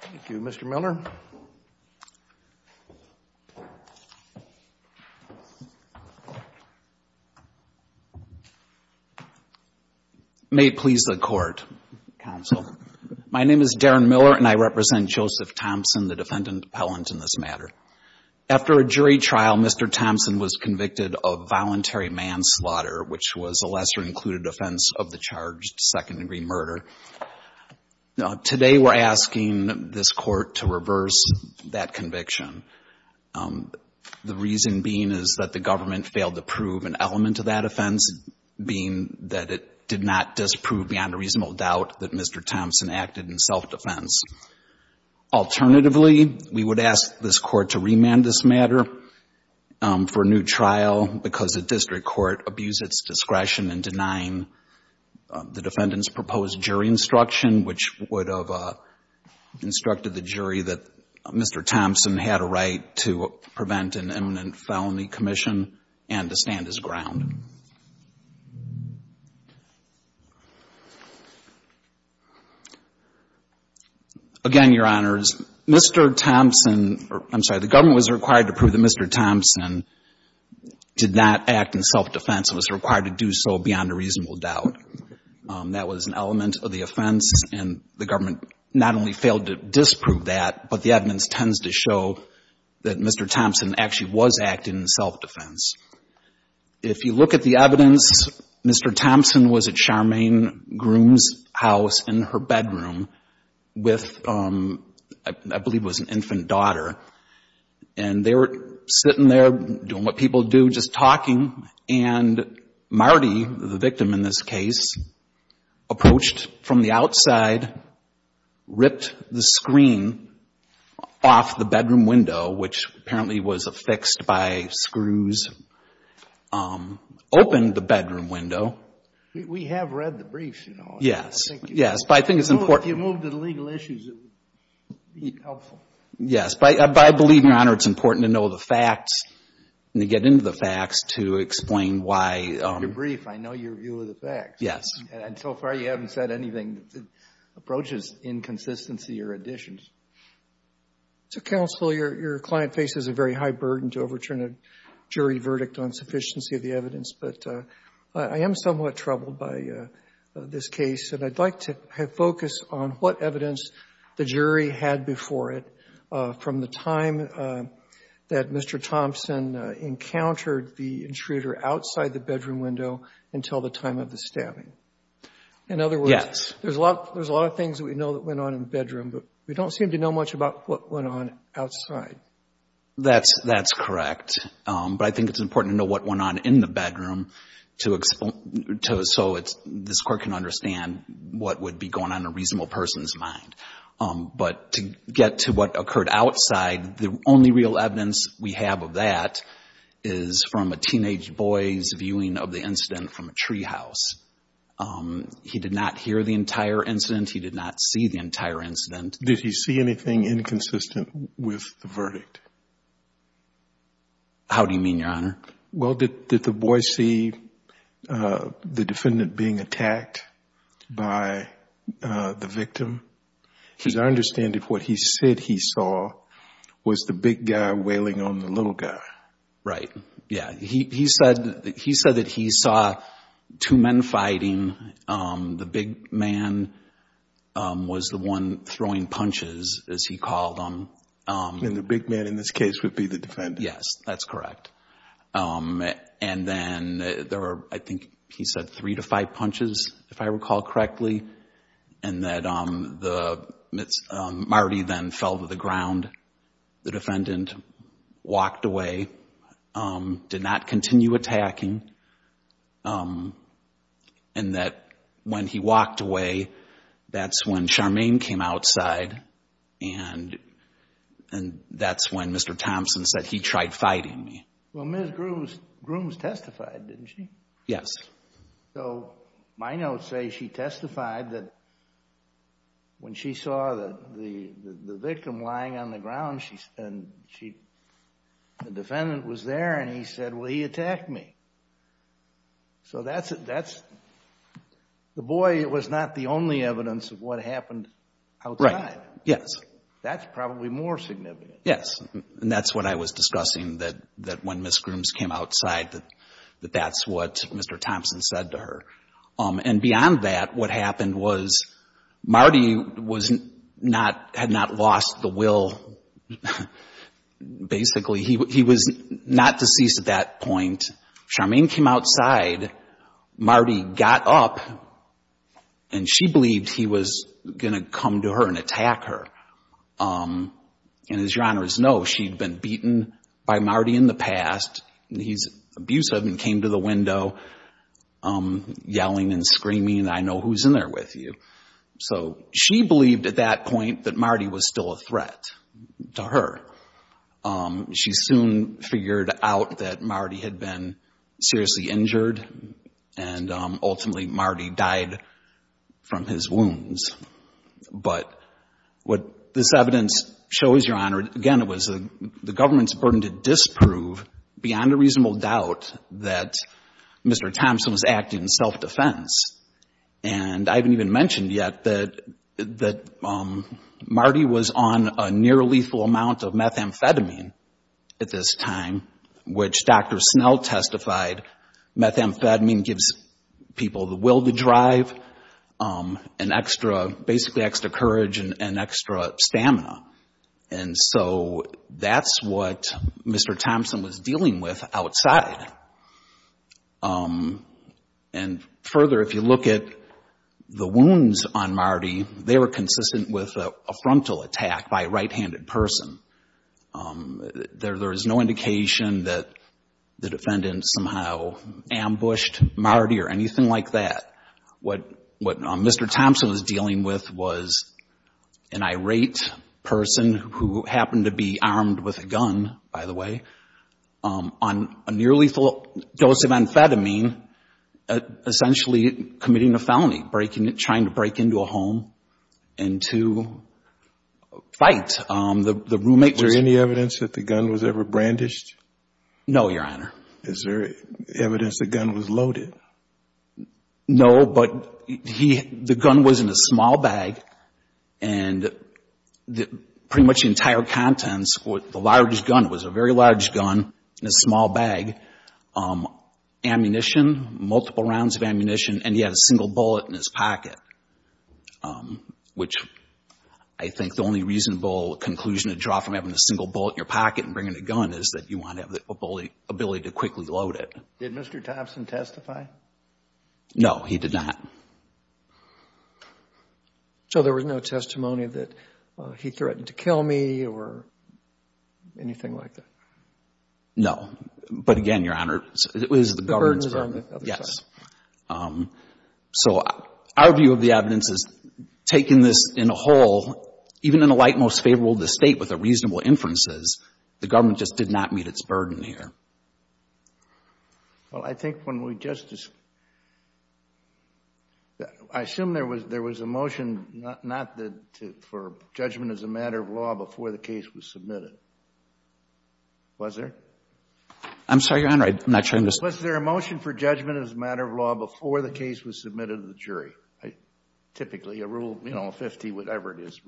Thank you, Mr. Miller. May it please the Court, Counsel. My name is Darren Miller and I represent Joseph Thompson, the defendant appellant in this matter. After a jury trial, Mr. Thompson was convicted of voluntary manslaughter, which was a lesser-included offense of the charged second-degree murder. Today we're asking this Court to reverse that conviction, the reason being is that the government failed to prove an element of that offense, being that it did not disprove beyond a reasonable doubt that Mr. Thompson acted in self-defense. Alternatively, we would ask this Court to remand this matter for a new trial because a district court abused its discretion in denying the defendant's proposed jury instruction, which would have instructed the jury that Mr. Thompson had a right to prevent an imminent felony commission and to stand his ground. Again, Your Honors, Mr. Thompson — I'm sorry — was required to prove that Mr. Thompson did not act in self-defense and was required to do so beyond a reasonable doubt. That was an element of the offense and the government not only failed to disprove that, but the evidence tends to show that Mr. Thompson actually was acting in self-defense. If you look at the evidence, Mr. Thompson was at our main groom's house in her bedroom with, I believe it was an infant daughter, and they were sitting there doing what people do, just talking, and Marty, the victim in this case, approached from the outside, ripped the screen off the bedroom window, which apparently was affixed by screws, opened the bedroom window. We have read the briefs, you know. Yes. Yes. But I think it's important — If you move to the legal issues, it would be helpful. Yes. But I believe, Your Honor, it's important to know the facts and to get into the facts to explain why — I read your brief. I know your view of the facts. Yes. And so far, you haven't said anything that approaches inconsistency or additions. So, Counsel, your client faces a very high burden to overturn a jury verdict on sufficiency of the evidence. But I am somewhat troubled by this case, and I'd like to focus on what evidence the jury had before it from the time that Mr. Thompson encountered the intruder outside the bedroom window until the time of the stabbing. In other words, there's a lot of things that we know that went on in the bedroom, but we don't seem to know much about what went on outside. That's correct. But I think it's important to know what went on in the bedroom to — so this Court can understand what would be going on in a reasonable person's mind. But to get to what occurred outside, the only real evidence we have of that is from a teenage boy's viewing of the incident from a treehouse. He did not hear the entire incident. He did not see the entire incident. Did he see anything inconsistent with the verdict? How do you mean, Your Honor? Well, did the boy see the defendant being attacked by the victim? Because I understand that what he said he saw was the big guy wailing on the little guy. Right. Yeah. He said that he saw two men fighting. The big man was the one throwing punches, as he called them. And the big man in this case would be the defendant. Yes, that's correct. And then there were, I think, he said three to five punches, if I recall correctly, and that Marty then fell to the ground. The defendant walked away, did not continue attacking. And that when he walked away, that's when Charmaine came outside, and that's when Mr. Thompson said, he tried fighting me. Well, Ms. Grooms testified, didn't she? Yes. So my notes say she testified that when she saw the victim lying on the ground, the defendant was there and he said, well, he attacked me. So that's, the boy was not the only evidence of what happened outside. Right. Yes. That's probably more significant. Yes. And that's what I was discussing, that when Ms. Grooms came outside, that that's what Mr. Thompson said to her. And beyond that, what happened was Marty had not lost the will, basically. He was not deceased at that point. Charmaine came outside. Marty got up, and she believed he was going to come to her and attack her. And as Your Honors know, she'd been beaten by Marty in the past. He's abusive and came to the window yelling and screaming, I know who's in there with you. So she believed at that point that Marty was still a threat to her. She soon figured out that Marty had been seriously injured, and ultimately Marty died from his wounds. But what this evidence shows, Your Honor, again, it was the government's burden to disprove beyond a reasonable doubt that Mr. Thompson was acting in self-defense. And I haven't even mentioned yet that Marty was on a near lethal amount of methamphetamine at this time, which Dr. Snell testified, methamphetamine gives people the will to drive and extra, basically, extra courage and extra stamina. And so that's what Mr. Thompson was dealing with outside. And further, if you look at the wounds on Marty, they were consistent with a frontal attack by a right-handed person. There is no indication that the defendant somehow ambushed Marty or anything like that. What Mr. Thompson was dealing with was an irate person who happened to be armed with a gun, by the way, on a nearly lethal dose of amphetamine, essentially committing a felony, trying to break into a home and to fight the roommate. Was there any evidence that the gun was ever brandished? No, Your Honor. Is there evidence the gun was loaded? No, but the gun was in a small bag and pretty much the entire contents, the large gun, it was a very large gun in a small bag, ammunition, multiple rounds of ammunition, and he had a single bullet in his pocket, which I think the only reasonable conclusion to draw from having a single bullet in your pocket and bringing a gun is that you want to have the ability to quickly load it. Did Mr. Thompson testify? No, he did not. So there was no testimony that he threatened to kill me or anything like that? No, but again, Your Honor, it was the government's burden. The burden was on the other side. So our view of the evidence is taking this in a whole, even in a light most favorable to the State with the reasonable inferences, the government just did not meet its burden here. Well, I think when we just, I assume there was a motion not for judgment as a matter of law before the case was submitted. Was there? I'm sorry, Your Honor, I'm not sure I understand. Was there a motion for judgment as a matter of law before the case was submitted to the jury, typically a rule, you know, 50, whatever it is?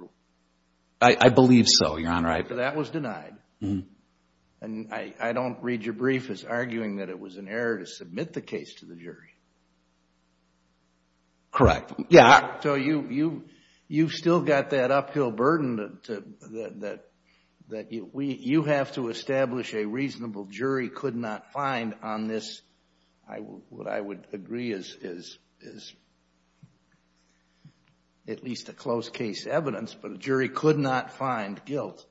I believe so, Your Honor. But that was denied. And I don't read your brief as arguing that it was an error to submit the case to the jury. Correct. So you've still got that uphill burden that you have to establish a reasonable jury could not find on this, what I would agree is at least a close case evidence, but a jury could not find guilt.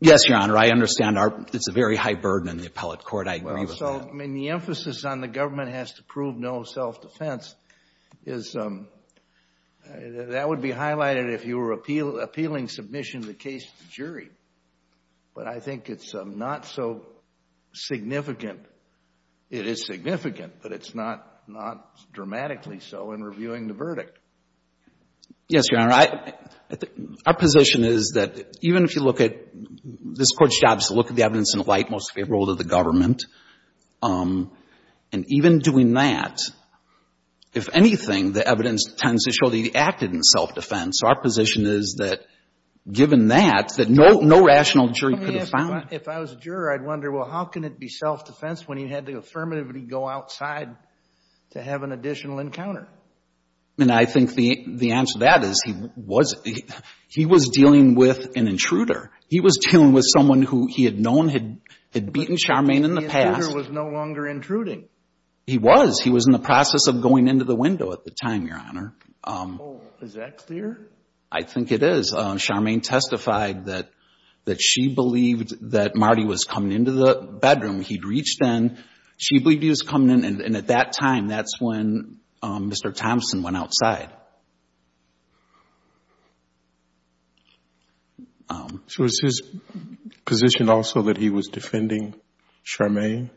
Yes, Your Honor. I understand it's a very high burden in the appellate court. I agree with that. Well, so, I mean, the emphasis on the government has to prove no self-defense is that would be highlighted if you were appealing submission of the case to the jury. But I think it's not so significant. It is significant, but it's not dramatically so in reviewing the verdict. Yes, Your Honor. Our position is that even if you look at, this Court's job is to look at the evidence in the light most favorable to the government. And even doing that, if anything, the evidence tends to show that you acted in self-defense. So our position is that given that, that no rational jury could have found it. If I was a juror, I'd wonder, well, how can it be self-defense when you had the affirmative to go outside to have an additional encounter? And I think the answer to that is he was dealing with an intruder. He was dealing with someone who he had known had beaten Charmaine in the past. The intruder was no longer intruding. He was. He was in the process of going into the window at the time, Your Honor. Is that clear? I think it is. Well, Charmaine testified that she believed that Marty was coming into the bedroom. He'd reached in. She believed he was coming in. And at that time, that's when Mr. Thompson went outside. So is his position also that he was defending Charmaine?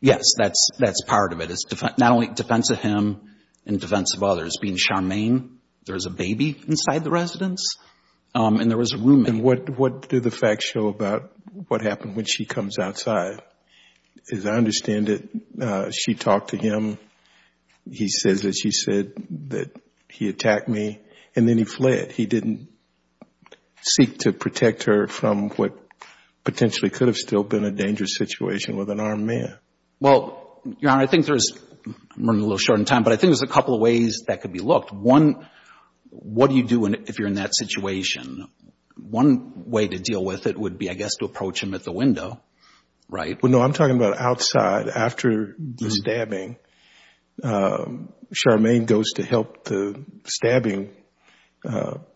Yes, that's part of it. It's not only defense of him and defense of others. As far as being Charmaine, there's a baby inside the residence, and there was a roommate. And what do the facts show about what happened when she comes outside? As I understand it, she talked to him. He says that she said that he attacked me, and then he fled. He didn't seek to protect her from what potentially could have still been a dangerous situation with an armed man. Well, Your Honor, I think there's, I'm running a little short on time, but I think there's a couple of ways that could be looked. One, what do you do if you're in that situation? One way to deal with it would be, I guess, to approach him at the window, right? Well, no, I'm talking about outside, after the stabbing. Charmaine goes to help the stabbing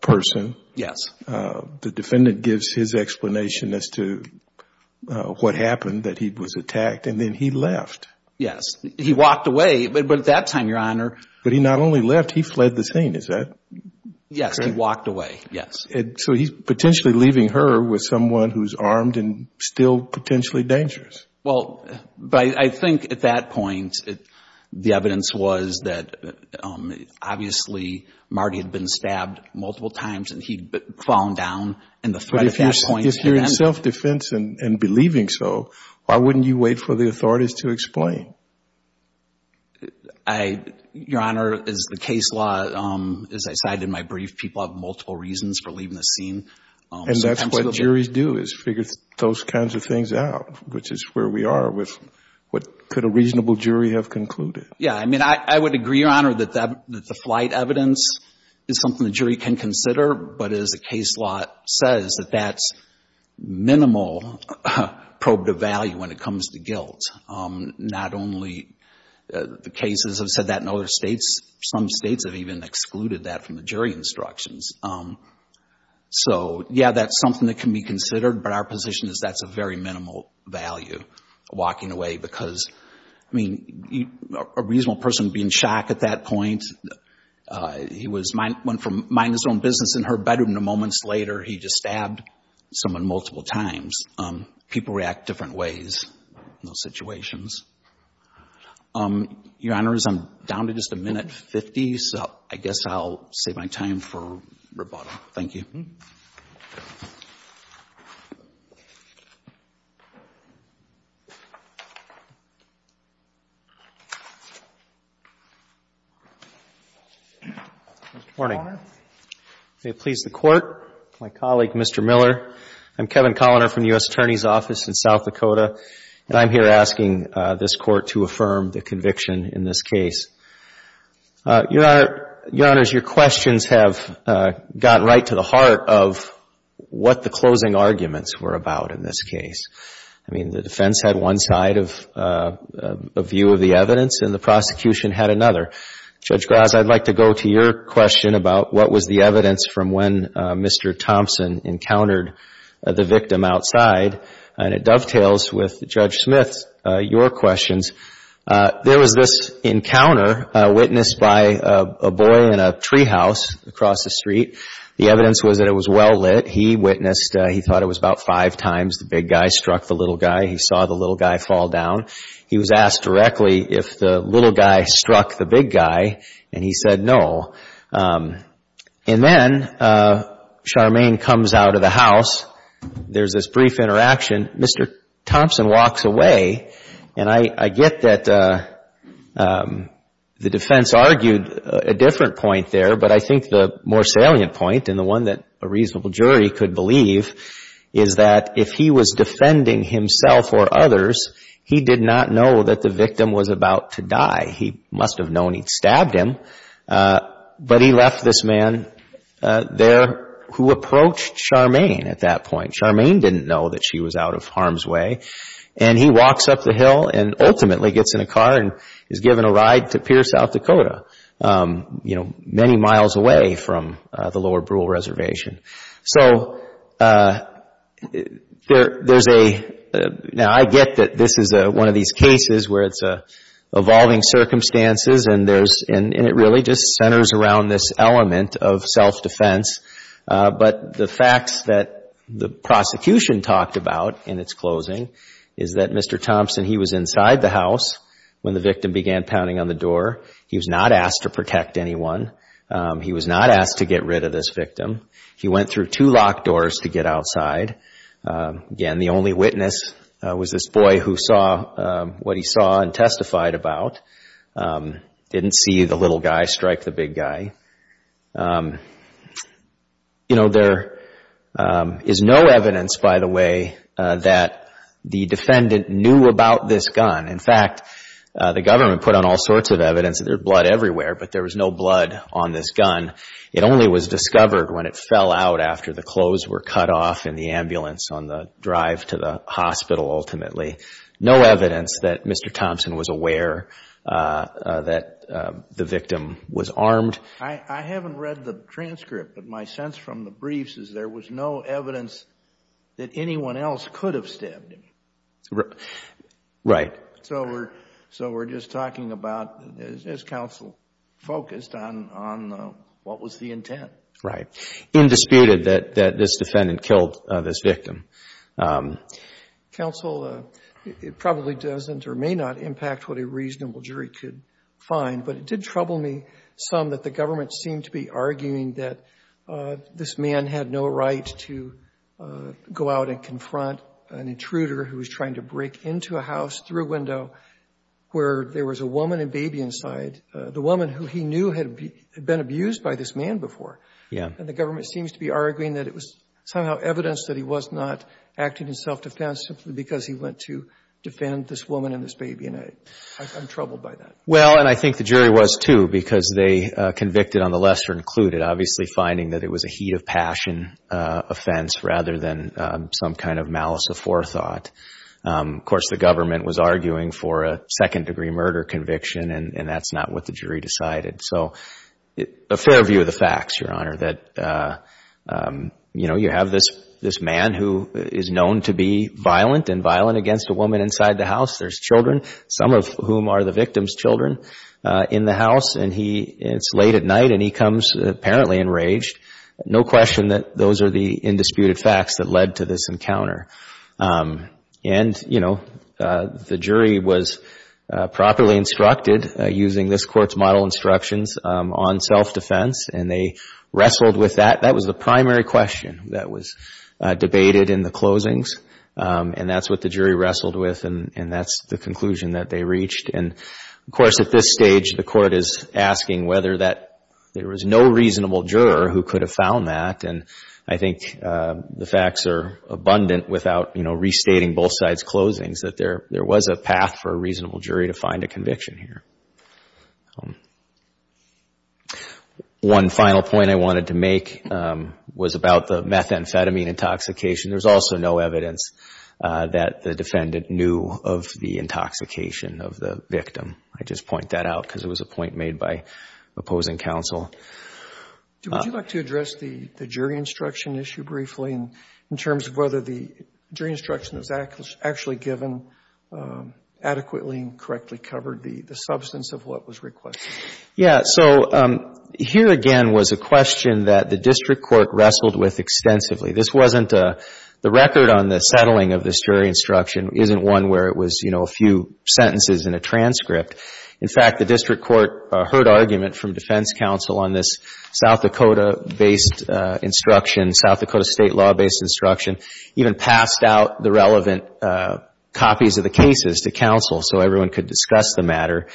person. Yes. The defendant gives his explanation as to what happened, that he was attacked. And then he left. He walked away, but at that time, Your Honor... But he not only left, he fled the scene. Is that correct? Yes. He walked away. Yes. So he's potentially leaving her with someone who's armed and still potentially dangerous. Well, I think at that point, the evidence was that, obviously, Marty had been stabbed multiple times, and he'd fallen down, and the threat at that point... Your Honor, as the case law, as I said in my brief, people have multiple reasons for leaving the scene. And that's what juries do, is figure those kinds of things out, which is where we are with what could a reasonable jury have concluded. Yes. I mean, I would agree, Your Honor, that the flight evidence is something the jury can consider, but as the case law says, that that's minimal probe to value when it comes to guilt. Not only the cases have said that in other states, some states have even excluded that from the jury instructions. So, yeah, that's something that can be considered, but our position is that's a very minimal value, walking away. Because, I mean, a reasonable person would be in shock at that point. He went from minding his own business in her bedroom to moments later, he just stabbed someone multiple times. People react different ways in those situations. Your Honors, I'm down to just a minute fifty, so I guess I'll save my time for rebuttal. Thank you. Morning. May it please the Court. My colleague, Mr. Miller. I'm Kevin Colliner from the U.S. Attorney's Office in South Dakota, and I'm here asking this Court to affirm the conviction in this case. Your Honors, your questions have gotten right to the heart of what the closing arguments were about in this case. I mean, the defense had one side of view of the evidence, and the prosecution had another. Judge Graz, I'd like to go to your question about what was the evidence from when Mr. Thompson encountered the victim outside. And it dovetails with Judge Smith's, your questions. There was this encounter witnessed by a boy in a tree house across the street. The evidence was that it was well lit. He witnessed, he thought it was about five times the big guy struck the little guy. He saw the little guy fall down. He was asked directly if the little guy struck the big guy, and he said no. And then Charmaine comes out of the house. There's this brief interaction. Mr. Thompson walks away, and I get that the defense argued a different point there, but I think the more salient point, and the one that a reasonable jury could believe, is that if he was defending himself or others, he did not know that the victim was about to die. He must have known he'd stabbed him, but he left this man there who approached Charmaine at that point. Charmaine didn't know that she was out of harm's way, and he walks up the hill and ultimately gets in a car and is given a ride to Pierre, South Dakota, many miles away from the Lower Brule Reservation. Now, I get that this is one of these cases where it's evolving circumstances, and it really just centers around this element of self-defense, but the facts that the prosecution talked about in its closing is that Mr. Thompson, he was inside the house when the victim began pounding on the door. He was not asked to protect anyone. He was not asked to get rid of this victim. He went through two locked doors to get outside. Again, the only witness was this boy who saw what he saw and testified about. Didn't see the little guy strike the big guy. You know, there is no evidence, by the way, that the defendant knew about this gun. In fact, the government put on all sorts of evidence. There's blood everywhere, but there was no blood on this gun. It only was discovered when it fell out after the clothes were cut off in the ambulance on the drive to the hospital, ultimately. No evidence that Mr. Thompson was aware that the victim was armed. I haven't read the transcript, but my sense from the briefs is there was no evidence that anyone else could have stabbed him. Right. So we're just talking about, is counsel focused on what was the intent? Right. Indisputed that this defendant killed this victim. Counsel, it probably doesn't or may not impact what a reasonable jury could find, but it did trouble me some that the government seemed to be arguing that this man had no right to go out and confront an intruder who was trying to break into a house through a window where there was a woman and baby inside, the woman who he knew had been abused by this man before. Yeah. And the government seems to be arguing that it was somehow evidence that he was not acting in self-defense simply because he went to defend this woman and this baby, and I'm troubled by that. Well, and I think the jury was, too, because they convicted on the lesser included, obviously finding that it was a heat of passion offense rather than some kind of malice of forethought. Of course, the government was arguing for a second-degree murder conviction, and that's not what the jury decided. So a fair view of the facts, Your Honor, that, you know, you have this man who is known to be violent and violent against a woman inside the house. There's children, some of whom are the victim's children, in the house. And it's late at night, and he comes apparently enraged. No question that those are the indisputed facts that led to this encounter. And, you know, the jury was properly instructed using this Court's model instructions on self-defense, and they wrestled with that. That was the primary question that was debated in the closings, and that's what the jury wrestled with, and that's the conclusion that they reached. And, of course, at this stage, the Court is asking whether that there was no reasonable juror who could have found that. And I think the facts are abundant without, you know, restating both sides' closings, that there was a path for a reasonable jury to find a conviction here. One final point I wanted to make was about the methamphetamine intoxication. There's also no evidence that the defendant knew of the intoxication of the victim. I just point that out because it was a point made by opposing counsel. Would you like to address the jury instruction issue briefly in terms of whether the jury instruction was actually given adequately and correctly covered the substance of what was requested? Yeah. So here again was a question that the district court wrestled with extensively. This wasn't a — the record on the settling of this jury instruction isn't one where it was, you know, a few sentences in a transcript. In fact, the district court heard argument from defense counsel on this South Dakota-based instruction, South Dakota state law-based instruction, even passed out the relevant copies of the cases to counsel so everyone could discuss the matter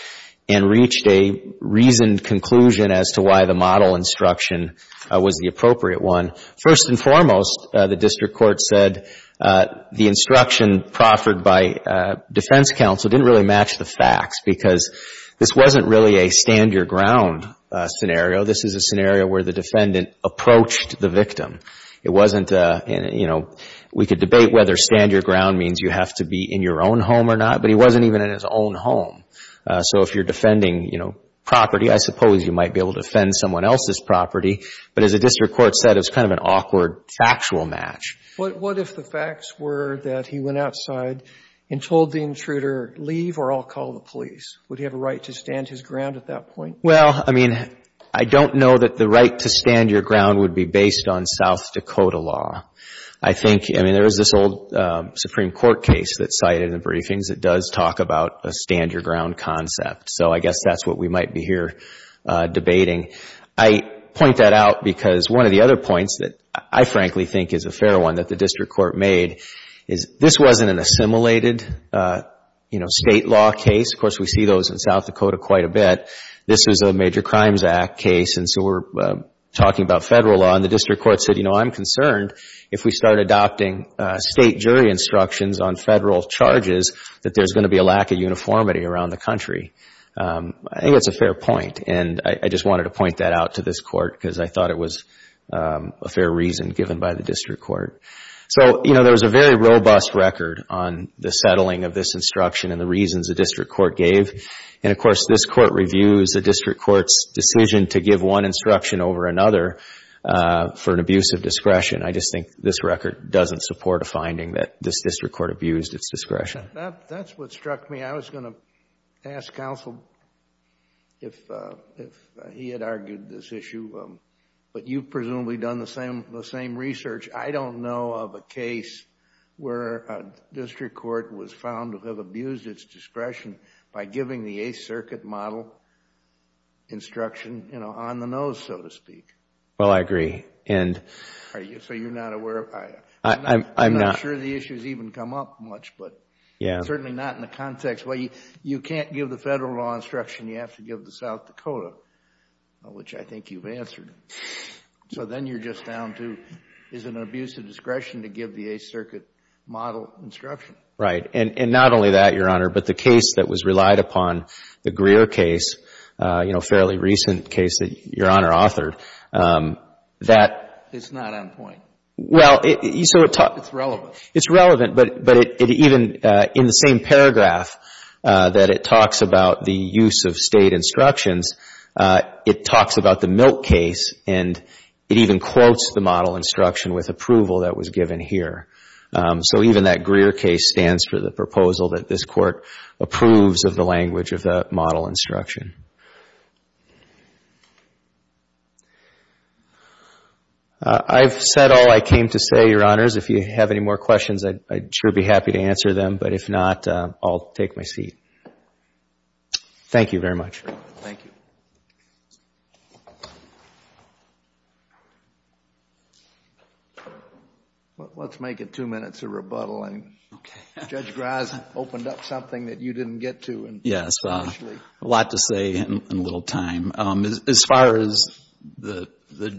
and reached a reasoned conclusion as to why the model instruction was the appropriate one. First and foremost, the district court said the instruction proffered by defense counsel didn't really match the facts because this wasn't really a stand your ground scenario. This is a scenario where the defendant approached the victim. It wasn't a, you know, we could debate whether stand your ground means you have to be in your own home or not, but he wasn't even in his own home. So if you're defending, you know, property, I suppose you might be able to defend someone else's property. But as the district court said, it was kind of an awkward factual match. What if the facts were that he went outside and told the intruder, leave or I'll call the police? Would he have a right to stand his ground at that point? Well, I mean, I don't know that the right to stand your ground would be based on South Dakota law. I think, I mean, there is this old Supreme Court case that's cited in the briefings that does talk about a stand your ground concept. So I guess that's what we might be here debating. I point that out because one of the other points that I frankly think is a fair one that the district court made is this wasn't an assimilated, you know, state law case. Of course, we see those in South Dakota quite a bit. This is a Major Crimes Act case, and so we're talking about federal law. And the district court said, you know, I'm concerned if we start adopting state jury instructions on federal charges that there's going to be a lack of uniformity around the country. I think that's a fair point, and I just wanted to point that out to this court because I thought it was a fair reason given by the district court. So, you know, there was a very robust record on the settling of this instruction and the reasons the district court gave. And, of course, this court reviews the district court's decision to give one instruction over another for an abuse of discretion. I just think this record doesn't support a finding that this district court abused its discretion. That's what struck me. I was going to ask counsel if he had argued this issue, but you've presumably done the same research. I don't know of a case where a district court was found to have abused its discretion by giving the Eighth Circuit model instruction, you know, on the nose, so to speak. Well, I agree. So you're not aware? I'm not. I'm not sure the issue has even come up much, but certainly not in the context. Well, you can't give the federal law instruction. You have to give the South Dakota, which I think you've answered. So then you're just down to is it an abuse of discretion to give the Eighth Circuit model instruction? Right. And not only that, Your Honor, but the case that was relied upon, the Greer case, you know, a fairly recent case that Your Honor authored. It's not on point. Well, it's relevant, but even in the same paragraph that it talks about the use of State instructions, it talks about the Milk case, and it even quotes the model instruction with approval that was given here. So even that Greer case stands for the proposal that this Court approves of the language of the model instruction. I've said all I came to say, Your Honors. If you have any more questions, I'd sure be happy to answer them. But if not, I'll take my seat. Thank you very much. Thank you. Let's make it two minutes of rebuttal. Judge Graz opened up something that you didn't get to. Yes. A lot to say in little time. As far as the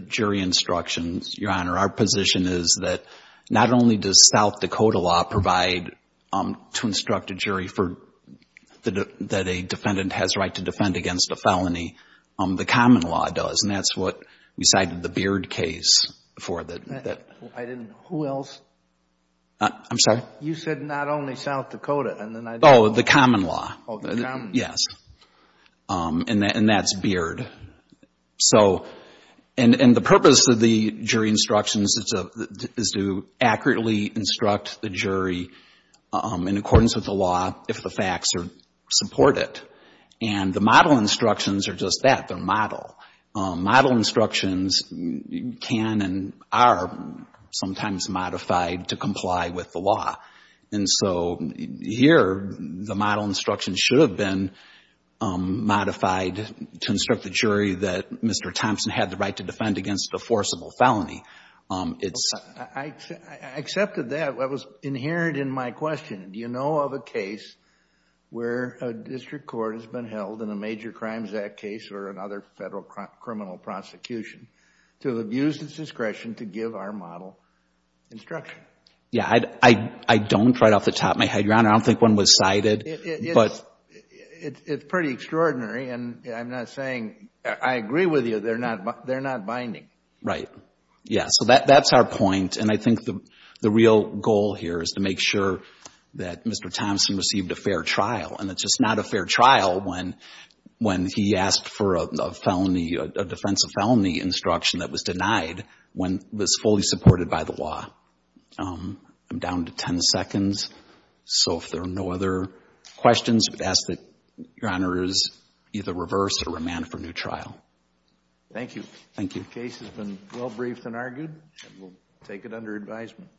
jury instructions, Your Honor, our position is that not only does South Dakota law provide to instruct a jury that a defendant has a right to defend against a felony, the common law does. And that's what we cited the Beard case for. I didn't know. Who else? I'm sorry? You said not only South Dakota. Oh, the common law. Yes. And that's Beard. And the purpose of the jury instructions is to accurately instruct the jury in accordance with the law if the facts support it. And the model instructions are just that. They're model. Model instructions can and are sometimes modified to comply with the law. And so here, the model instructions should have been modified to instruct the jury that Mr. Thompson had the right to defend against a forcible felony. I accepted that. That was inherent in my question. Do you know of a case where a district court has been held in a major crimes act case or another federal criminal prosecution to have abused its discretion to give our model instruction? Yeah. I don't right off the top of my head, Your Honor. I don't think one was cited. It's pretty extraordinary. And I'm not saying I agree with you. They're not binding. Right. Yeah. So that's our point. And I think the real goal here is to make sure that Mr. Thompson received a fair trial. And it's just not a fair trial when he asked for a felony, a defense of felony instruction that was denied when it was fully supported by the law. I'm down to 10 seconds. So if there are no other questions, I would ask that Your Honor is either reverse or remand for new trial. Thank you. Thank you. The case has been well briefed and argued. And we'll take it under advisement.